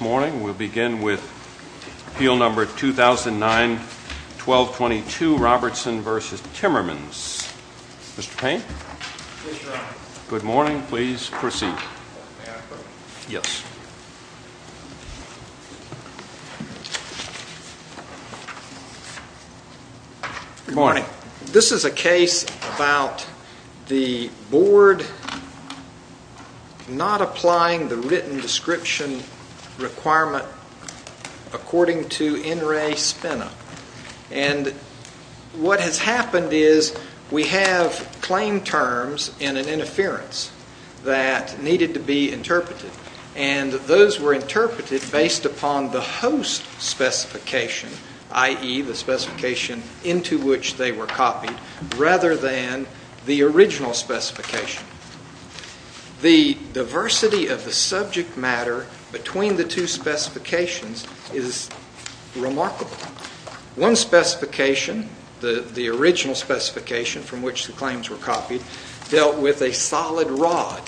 We'll begin with Appeal Number 2009-1222, Robertson v. Timmermans. Mr. Payne, good morning. Please proceed. Good morning. This is a case about the board not applying the written description requirement according to NRA spin-up. And what has happened is we have claim terms in an interference that needed to be interpreted. And those were interpreted based upon the host specification, i.e., the specification into which they were copied, rather than the two specifications is remarkable. One specification, the original specification from which the claims were copied, dealt with a solid rod.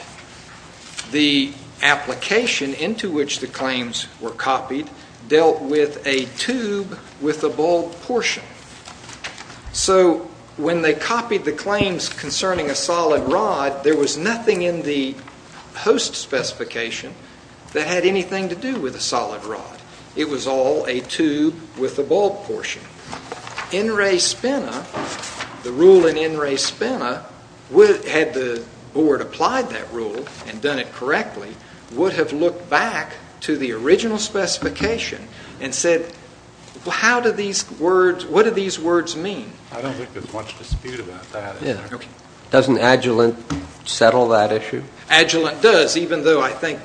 The application into which the claims were copied dealt with a tube with a bowl portion. So when they copied the claims concerning a solid rod, there was nothing in the host specification that had anything to do with a solid rod. It was all a tube with a bowl portion. NRA spin-up, the rule in NRA spin-up, had the board applied that rule and done it correctly, would have looked back to the original specification and said, how do these words, what do these words mean? I don't think there's much dispute about that. Doesn't Agilent settle that issue? Agilent does, even though I think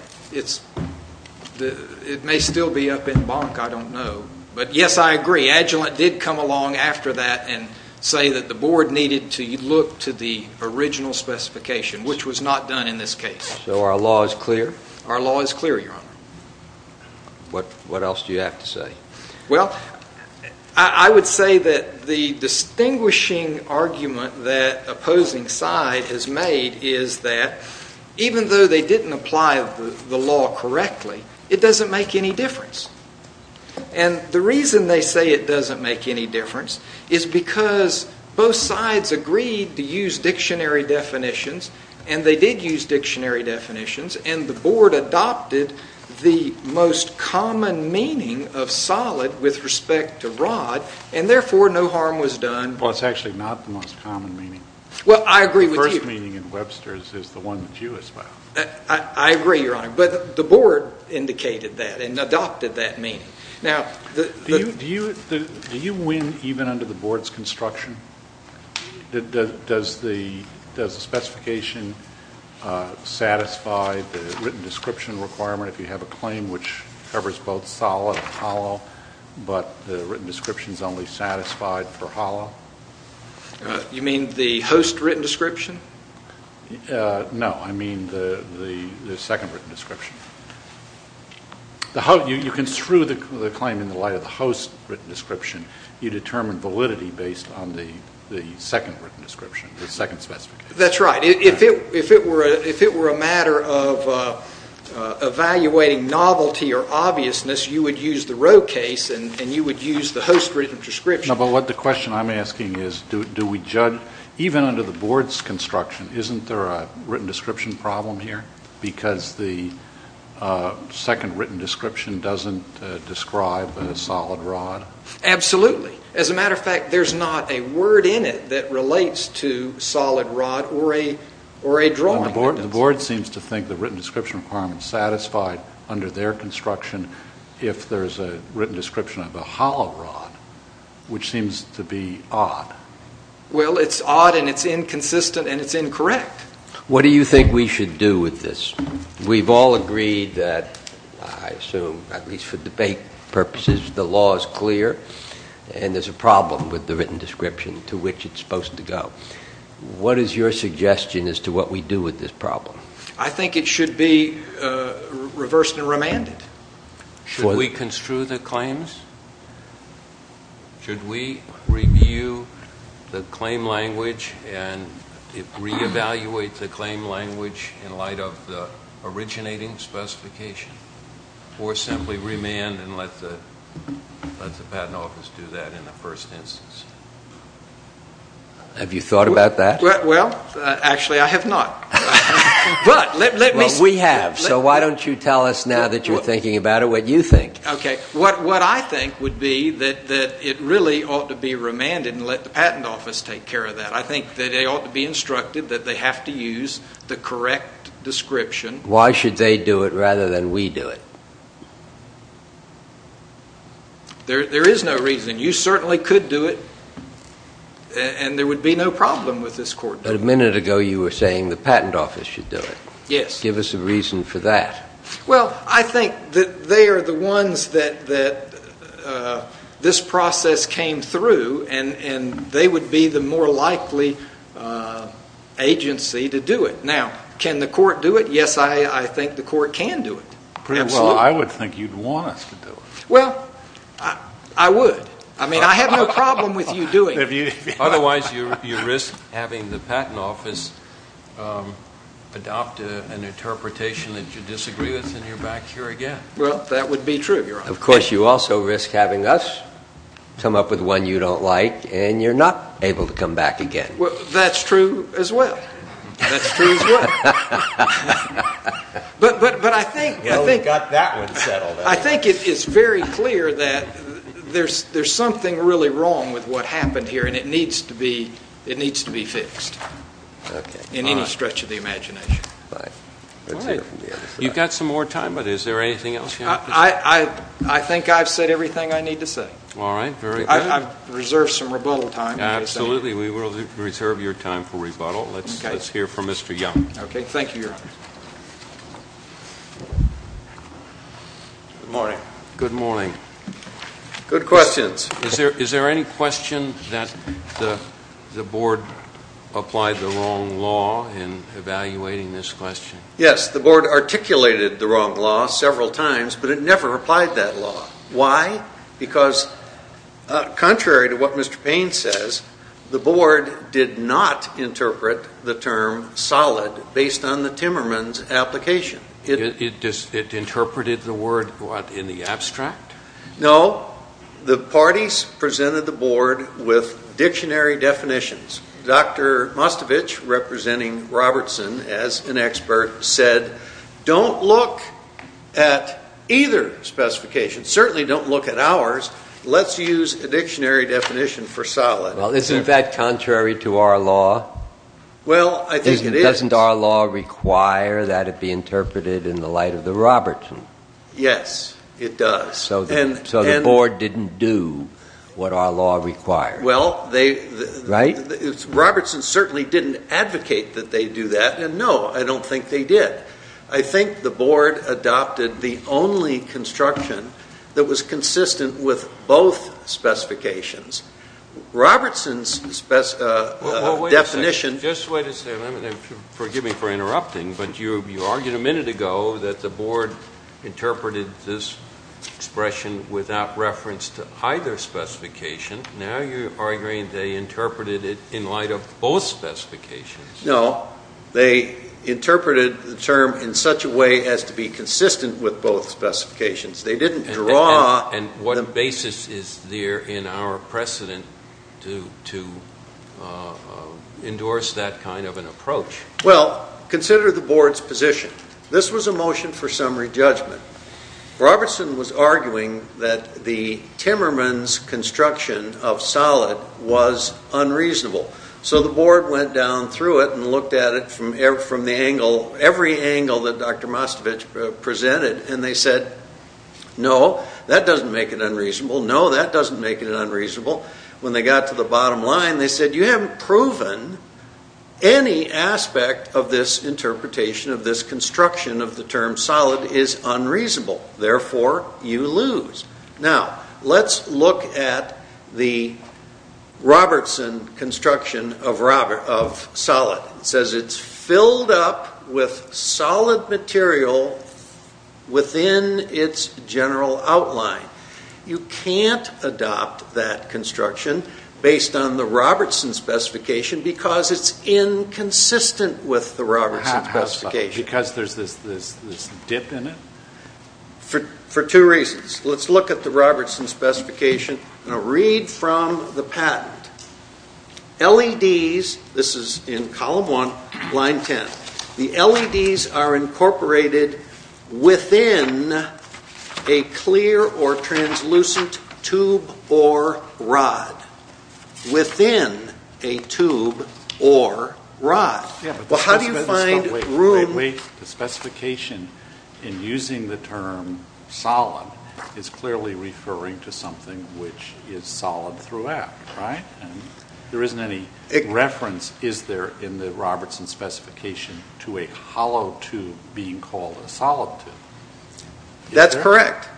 it may still be up in bonk. I don't know. But yes, I agree. Agilent did come along after that and say that the board needed to look to the original specification, which was not done in this case. So our law is clear? Our law is clear, Your Honor. What else do you have to say? Well, I would say that the distinguishing argument that opposing side has made is that even though they didn't apply the law correctly, it doesn't make any difference. And the reason they say it doesn't make any difference is because both sides agreed to use dictionary definitions, and they did use dictionary definitions, and the board adopted the most common meaning of solid with respect to rod, and therefore no harm was done. Well, it's actually not the most common meaning. Well, I agree with you. The first meaning in Webster's is the one that you espoused. I agree, Your Honor. But the board indicated that and adopted that meaning. Now, do you win even under the board's construction? Does the specification satisfy the written description, which is both solid and hollow, but the written description is only satisfied for hollow? You mean the host written description? No, I mean the second written description. You construe the claim in the light of the host written description. You determine validity based on the second written description, the second specification. That's right. If it were a matter of evaluating novelty or obviousness, you would use the row case, and you would use the host written description. No, but what the question I'm asking is, do we judge, even under the board's construction, isn't there a written description problem here, because the second written description doesn't describe a solid rod? Absolutely. As a matter of fact, there's not a word in it that relates to solid rod or a drawing. The board seems to think the written description requirement's satisfied under their construction if there's a written description of a hollow rod, which seems to be odd. Well, it's odd and it's inconsistent and it's incorrect. What do you think we should do with this? We've all agreed that, I assume, at least for debate purposes, the law is clear and there's a problem with the written description to which it's supposed to go. What is your suggestion as to what we do with this problem? I think it should be reversed and remanded. Should we construe the claims? Should we review the claim language and re-evaluate the claim language in light of the originating specification? Or simply remand and let the patent office do that in the first instance? Have you thought about that? Well, actually, I have not. But we have, so why don't you tell us now that you're thinking about it what you think. What I think would be that it really ought to be remanded and let the patent office take the correct description. Why should they do it rather than we do it? There is no reason. You certainly could do it and there would be no problem with this court. But a minute ago you were saying the patent office should do it. Yes. Give us a reason for that. Well, I think that they are the ones that this process came through and they would be the more likely agency to do it. Now, can the court do it? Yes, I think the court can do it. Pretty well, I would think you'd want us to do it. Well, I would. I mean, I have no problem with you doing it. Otherwise, you risk having the patent office adopt an interpretation that you disagree with and you're back here again. Well, that would be true, Your Honor. Of course, you also risk having us come up with one you don't like and you're not able to come back again. Well, that's true as well. That's true as well. I think it's very clear that there's something really wrong with what happened here and it needs to be fixed in any stretch of the imagination. All right. You've got some more time, but is there anything else you want to say? I think I've said everything I need to say. All right. I've reserved some rebuttal time. Absolutely. We will reserve your time for rebuttal. Let's hear from Mr. Young. Okay. Thank you, Your Honor. Good morning. Good morning. Good questions. Is there any question that the board applied the wrong law in evaluating this question? Yes. The board articulated the wrong law several times, but it never applied that law. Why? Because contrary to what Mr. Payne says, the board did not interpret the term solid based on the Timmermans' application. It interpreted the word, what, in the abstract? No. The parties presented the board with dictionary definitions. Dr. Mostovich, representing Robertson as an expert, said, don't look at either specification. Certainly don't look at ours. Let's use a dictionary definition for solid. Well, isn't that contrary to our law? Well, I think it is. Doesn't our law require that it be interpreted in the light of the Robertson? Yes, it does. So the board didn't do what our law required. Well, Robertson certainly didn't advocate that they do that, and no, I don't think they did. I think the board adopted the only construction that was consistent with both specifications. Robertson's definition- Just wait a second. Forgive me for interrupting, but you argued a minute ago that the board interpreted this expression without reference to either specification. Now you're arguing they interpreted it in light of both specifications. No, they interpreted the term in such a way as to be consistent with both specifications. They didn't draw- And what basis is there in our precedent to endorse that kind of an approach? Well, consider the board's position. This was a motion for summary judgment. Robertson was arguing that the Timmermans' construction of solid was unreasonable. So the board went down through it and looked at it from every angle that Dr. Mostovich presented, and they said, no, that doesn't make it unreasonable. No, that doesn't make it unreasonable. When they got to the bottom line, they said, you haven't proven any aspect of this interpretation of this construction of the term solid is unreasonable. Therefore, you lose. Now, let's look at the Robertson construction of solid. It says it's filled up with solid material within its general outline. You can't adopt that construction based on the Robertson specification because it's inconsistent with the Robertson specification. Because there's this dip in it? For two reasons. Let's look at the Robertson specification and I'll read from the patent. LEDs, this is in column 1, line 10. The LEDs are incorporated within a clear or translucent tube or rod. Within a tube or rod. How do you find room? The specification in using the term solid is clearly referring to something which is solid throughout. Right? There isn't any reference in the Robertson specification to a hollow tube being called a solid tube. That's correct.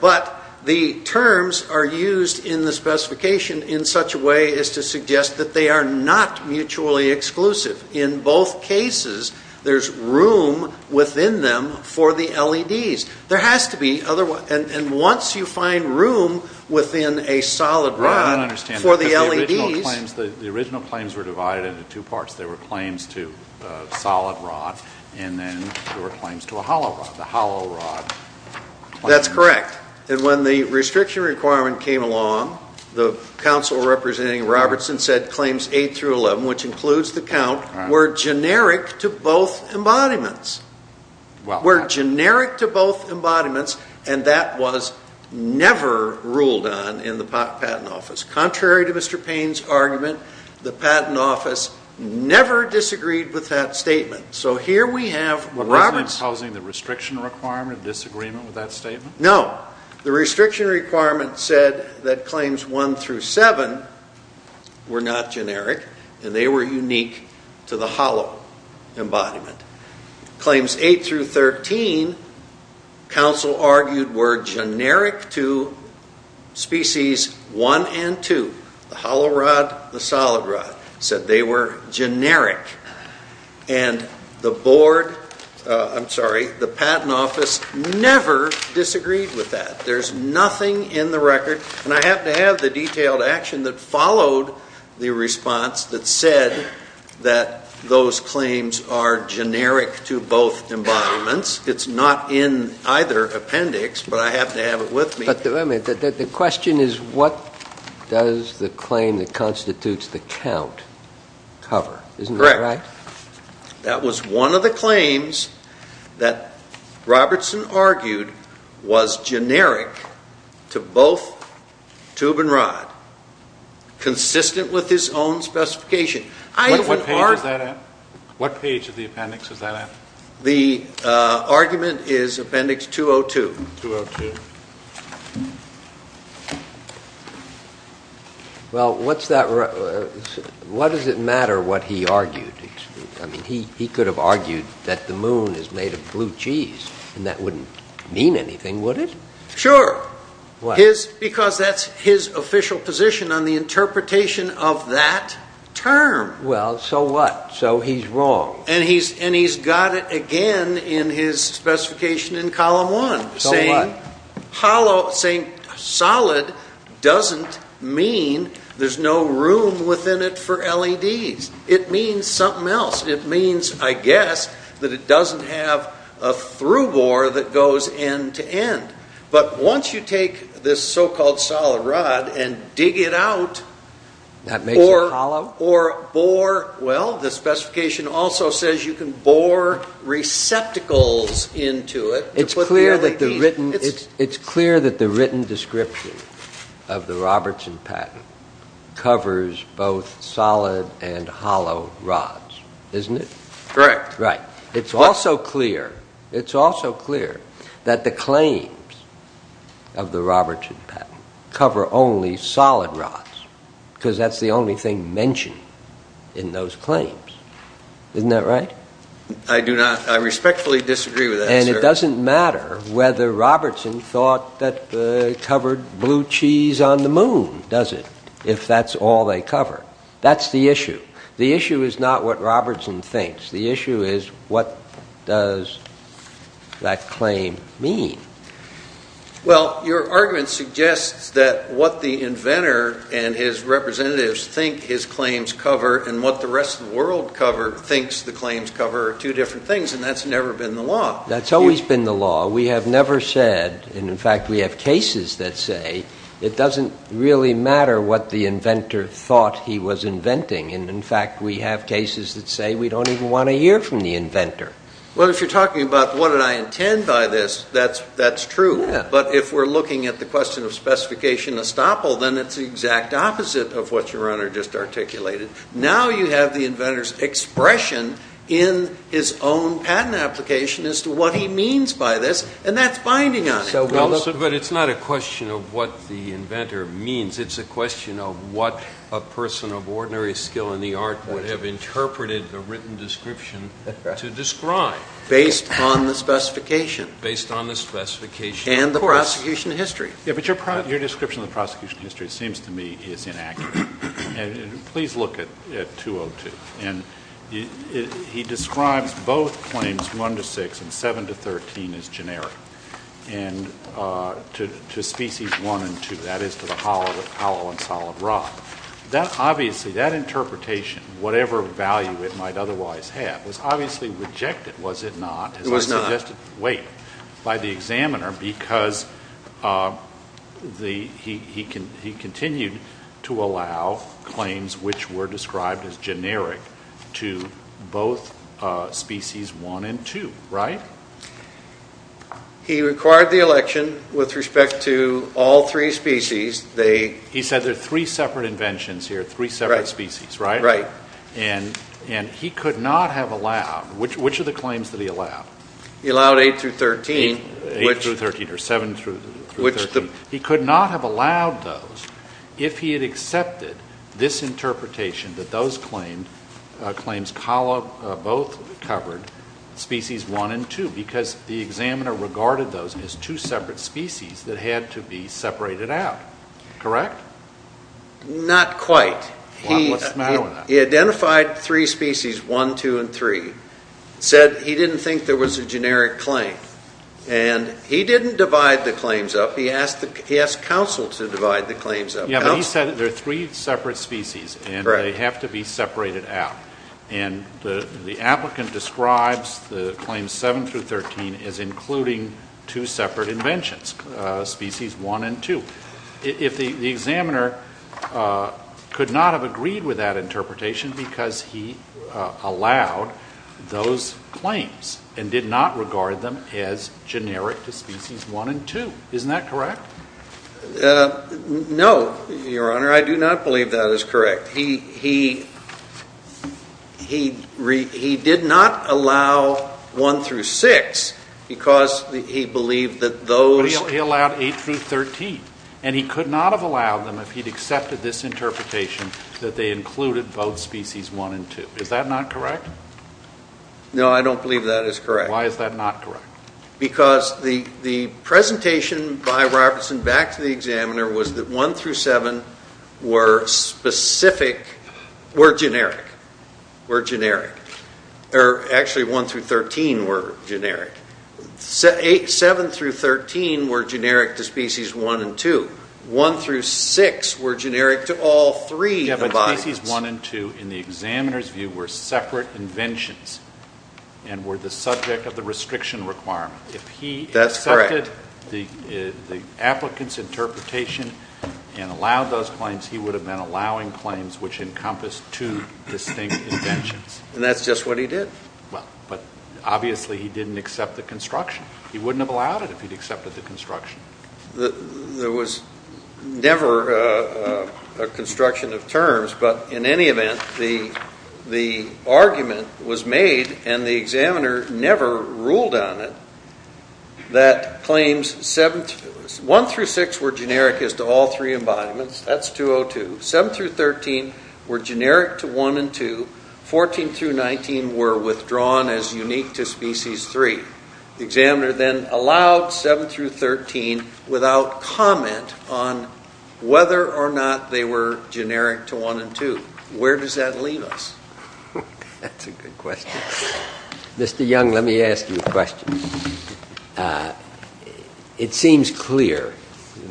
But the terms are used in the specification in such a way as to suggest that they are not mutually exclusive. In both cases there's room within them for the LEDs. Once you find room within a solid rod for the LEDs The original claims were divided into two parts. There were claims to a solid rod and then there were claims to a hollow rod. That's correct. When the restriction requirement came along, the council representing Robertson said claims 8 through 11, which includes the count, were generic to both embodiments. Were generic to both embodiments and that was never ruled on in the patent office. Contrary to Mr. Payne's argument, the patent office never disagreed with that statement. So here we have the restriction requirement disagreement with that statement? No. The restriction requirement said that claims 1 through 7 were not generic and they were unique to the hollow embodiment. Claims 8 through 13, council argued were generic to species 1 and 2, the hollow rod, the solid rod. They were generic and the board I'm sorry, the patent office never disagreed with that. There's nothing in the record and I have to have the detailed action that followed the response that said that those claims are generic to both embodiments. It's not in either appendix but I have to have it with me. The question is what does the claim that constitutes the count cover? Correct. That was one of the claims that Robertson argued was generic to both tube and rod consistent with his own specification. What page of the appendix is that at? The argument is appendix 202. What does it matter what he argued? He could have argued that the moon is made of blue cheese and that wouldn't mean anything would it? Sure. Because that's his official position on the interpretation of that term. So what? So he's wrong. And he's got it again in his specification in column 1 saying solid doesn't mean there's no room within it for something else. It means, I guess that it doesn't have a through bore that goes end to end. But once you take this so called solid rod and dig it out or bore well the specification also says you can bore receptacles into it It's clear that the written description of the Robertson patent covers both solid and hollow rods. Isn't it? Correct. It's also clear that the claims of the Robertson patent cover only solid rods because that's the only thing mentioned in those claims. Isn't that right? I respectfully disagree with that. And it doesn't matter whether Robertson thought that it covered blue cheese on the moon, does it? If that's all they cover. That's the issue. The issue is not what Robertson thinks. The issue is what does that claim mean? Well, your argument suggests that what the inventor and his representatives think his claims cover and what the rest of the world thinks the claims cover are two different things and that's never been the law. That's always been the law. We have never said and in fact we have cases that say it doesn't really matter what the inventor thought he was inventing and in fact we have cases that say we don't even want to hear from the inventor. Well, if you're talking about what did I intend by this, that's true. But if we're looking at the question of specification estoppel then it's the exact opposite of what your honor just articulated. Now you have the inventor's expression in his own patent application as to what he means by this and that's binding on it. But it's not a question of what the inventor means. It's a question of what a person of ordinary skill in the art would have interpreted the written description to describe. Based on the specification. Based on the specification. And the prosecution history. Yeah, but your description of the prosecution history seems to me is inaccurate and please look at 202 and he describes both claims 1 to 6 and 7 to 13 as generic and to species 1 and 2 that is to the hollow and solid rock. That obviously that interpretation, whatever value it might otherwise have, was obviously rejected, was it not? It was not. Wait. By the examiner because he continued to allow claims which were described as generic to both species 1 and 2. Right? He required the election with respect to all three species He said there are three separate inventions here, three separate species, right? Right. And he could not have allowed, which are the claims that he allowed? He allowed 8 through 13. 8 through 13 or 7 through 13. He could not have allowed those if he had accepted this interpretation that those claims both covered species 1 and 2 because the examiner regarded those as two separate species that had to be separated out. Correct? Not quite. What's the matter with that? He identified three species, 1 2 and 3. He said he didn't think there was a generic claim and he didn't divide the claims up. He asked counsel to divide the claims up. He said there are three separate species and they have to be separated out and the applicant describes the claims 7 through 13 as including two separate inventions, species 1 and 2. If the examiner could not have agreed with that interpretation because he allowed those claims and did not regard them as generic to species 1 and 2. Isn't that correct? No, Your Honor. I do not believe that is correct. He did not allow 1 through 6 because he believed that those... But he allowed 8 through 13 and he could not have allowed them if he had accepted this interpretation that they included both species 1 and 2. Is that not correct? No, I don't believe that is correct. Why is that not correct? Because the presentation by Robertson back to the examiner was that 1 through 7 were specific were generic. Were generic. Actually 1 through 13 were generic. 7 through 13 were generic to species 1 and 2. 1 through 6 were generic to all three. But species 1 and 2 in the examiner's view were separate inventions and were the subject of the restriction requirement. If he accepted the applicant's interpretation and allowed those claims, he would have been allowing claims which encompass two distinct inventions. And that's just what he did. Obviously he didn't accept the construction. He wouldn't have allowed it if he had accepted the construction. There was never a construction of terms but in any event the argument was made and the examiner never ruled on it that claims 1 through 6 were generic as to all three embodiments. That's 202. 7 through 13 were generic to 1 and 2. 14 through 19 were withdrawn as unique to species 3. The examiner then allowed 7 through 13 without comment on whether or not they were generic to 1 and 2. Where does that leave us? That's a good question. Mr. Young, let me ask you a question. It seems clear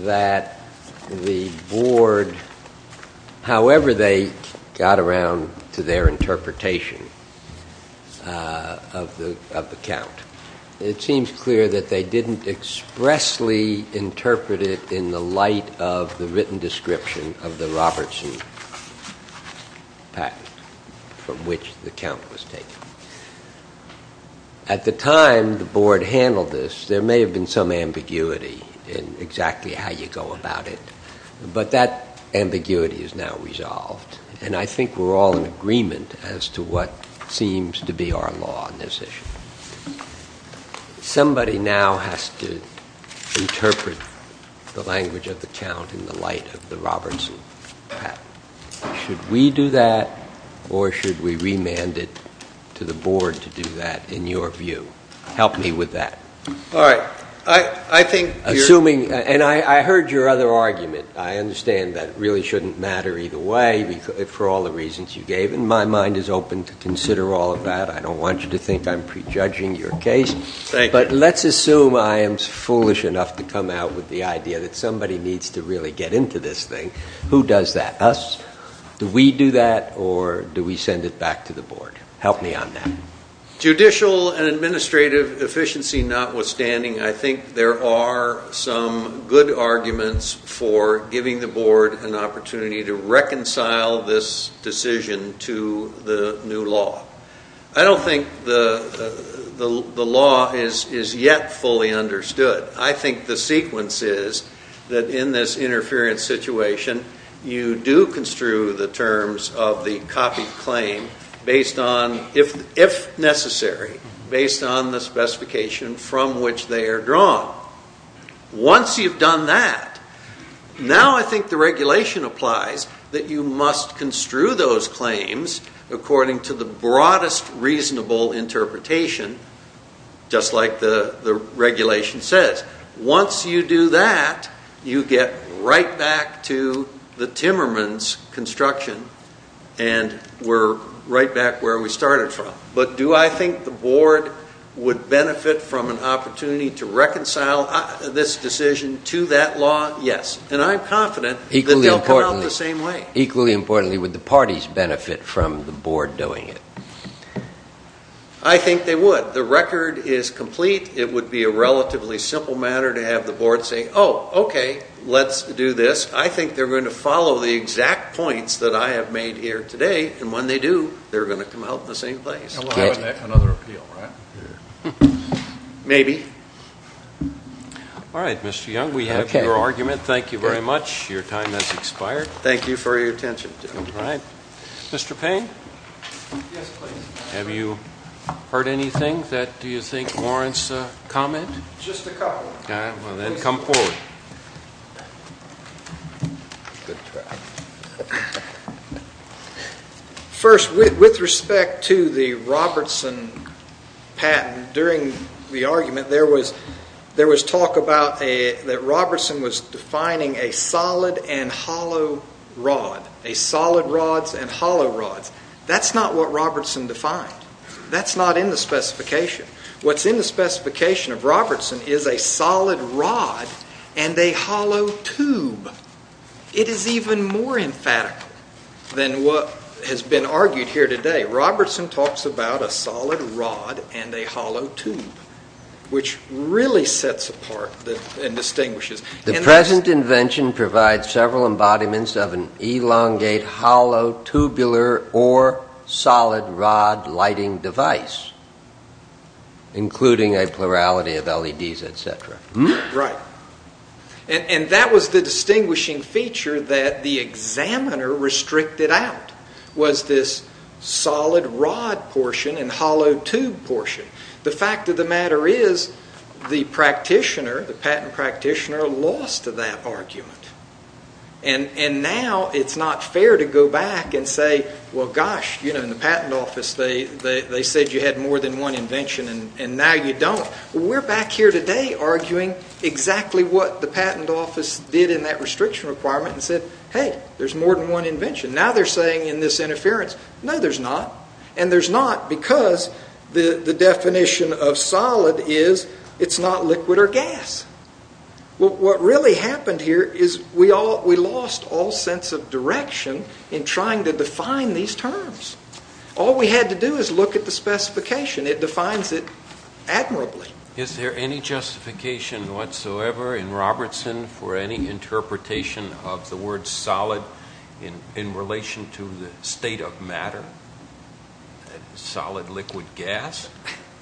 that the board however they got around to their interpretation of the count it seems clear that they didn't expressly interpret it in the light of the written description of the Robertson patent from which the count was taken. At the time the board handled this there may have been some ambiguity in exactly how you go about it but that ambiguity is now resolved and I think we're all in agreement as to what seems to be our law on this issue. Somebody now has to interpret the language of the count in the light of the Robertson patent. Should we do that or should we remand it to the board to do that in your view? Help me with that. I heard your other argument I understand that it really shouldn't matter either way for all the reasons you gave and my mind is open to consider all of that. I don't want you to think I'm prejudging your case but let's assume I am foolish enough to come out with the idea that somebody needs to really get into this thing. Who does that? Us? Do we do that or do we send it back to the board? Help me on that. Judicial and administrative efficiency notwithstanding I think there are some good arguments for giving the board an opportunity to reconcile this decision to the new law. I don't think the law is yet fully understood I think the sequence is that in this interference situation you do construe the terms of the copied claim based on, if necessary, based on the specification from which they are drawn. Once you've done that, now I think the regulation applies that you must construe those claims according to the broadest reasonable interpretation just like the regulation says. Once you do that you get right back to the Timmermans' construction and we're right back where we started from. But do I think the board would benefit from an opportunity to reconcile this decision to that law? Yes. And I'm confident that they'll come out the same way. Equally importantly, would the parties benefit from the board doing it? I think they would. The record is complete it would be a relatively simple matter to have the board say, oh, okay let's do this. I think they're going to follow the exact points that I have made here today and when they do they're going to come out in the same place. Another appeal, right? Maybe. Alright, Mr. Young we have your argument. Thank you very much. Your time has expired. Thank you for your attention. Mr. Payne? Have you heard anything that do you think warrants comment? Just a couple. Then come forward. First, with respect to the Robertson patent, during the argument there was talk about that Robertson was defining a solid and hollow rod. A solid rods and hollow rods. That's not what Robertson defined. That's not in the specification. What's in the specification of Robertson is a solid rod and a hollow tube. It is even more emphatic than what has been argued here today. Robertson talks about a solid rod and a hollow tube which really sets apart and distinguishes. The present invention provides several embodiments of an elongate hollow tubular or solid rod lighting device, including a plurality of LEDs etc. That was the distinguishing feature that the examiner restricted out was this solid rod portion and hollow tube portion. The fact of the matter is the practitioner, the patent practitioner lost to that argument. Now it's not fair to go back and say, well gosh in the patent office they said you had more than one invention and now you don't. We're back here today arguing exactly what the patent office did in that restriction requirement and said, hey there's more than one invention. Now they're saying in this interference, no there's not and there's not because the definition of solid is it's not liquid or gas. What really happened here is we lost all sense of direction in trying to define these terms. All we had to do was look at the specification. It defines it admirably. Is there any justification whatsoever in Robertson for any interpretation of the word solid in relation to the state of matter? Solid liquid gas?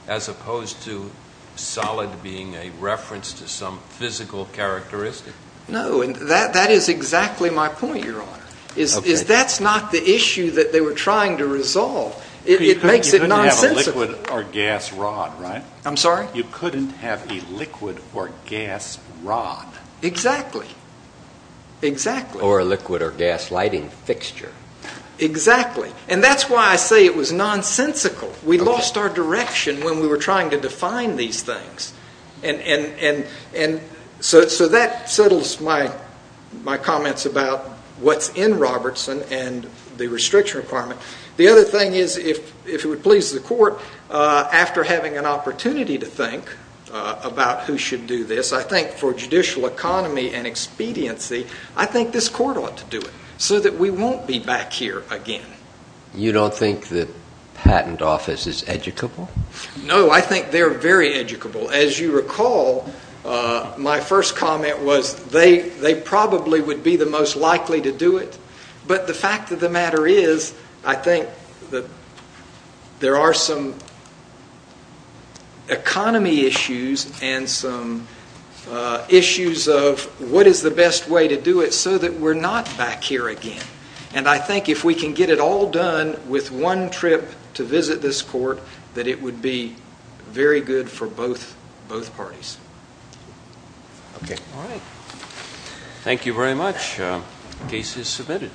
As opposed to solid being a reference to some physical characteristic? No, that is exactly my point, your honor, is that's not the issue that they were trying to resolve. It makes it nonsensical. You couldn't have a liquid or gas rod, right? I'm sorry? You couldn't have a liquid or gas rod. Exactly. Exactly. Or a liquid or gas lighting fixture. Exactly. And that's why I say it was nonsensical. We lost our direction when we were trying to define these things and so that settles my comments about what's in Robertson and the restriction requirement. The other thing is, if it would please the court, after having an opportunity to think about who should do this, I think for judicial economy and expediency, I think this court ought to do it so that we won't be back here again. You don't think the patent office is educable? No, I think they're very educable. As you recall, my first comment was they probably would be the most likely to do it, but the fact of the matter is, I think there are some economy issues and some issues of what is the best way to do it so that we're not back here again. And I think if we can get it all done with one trip to visit this court, that it would be very good for both parties. Okay. Thank you very much. Case is submitted.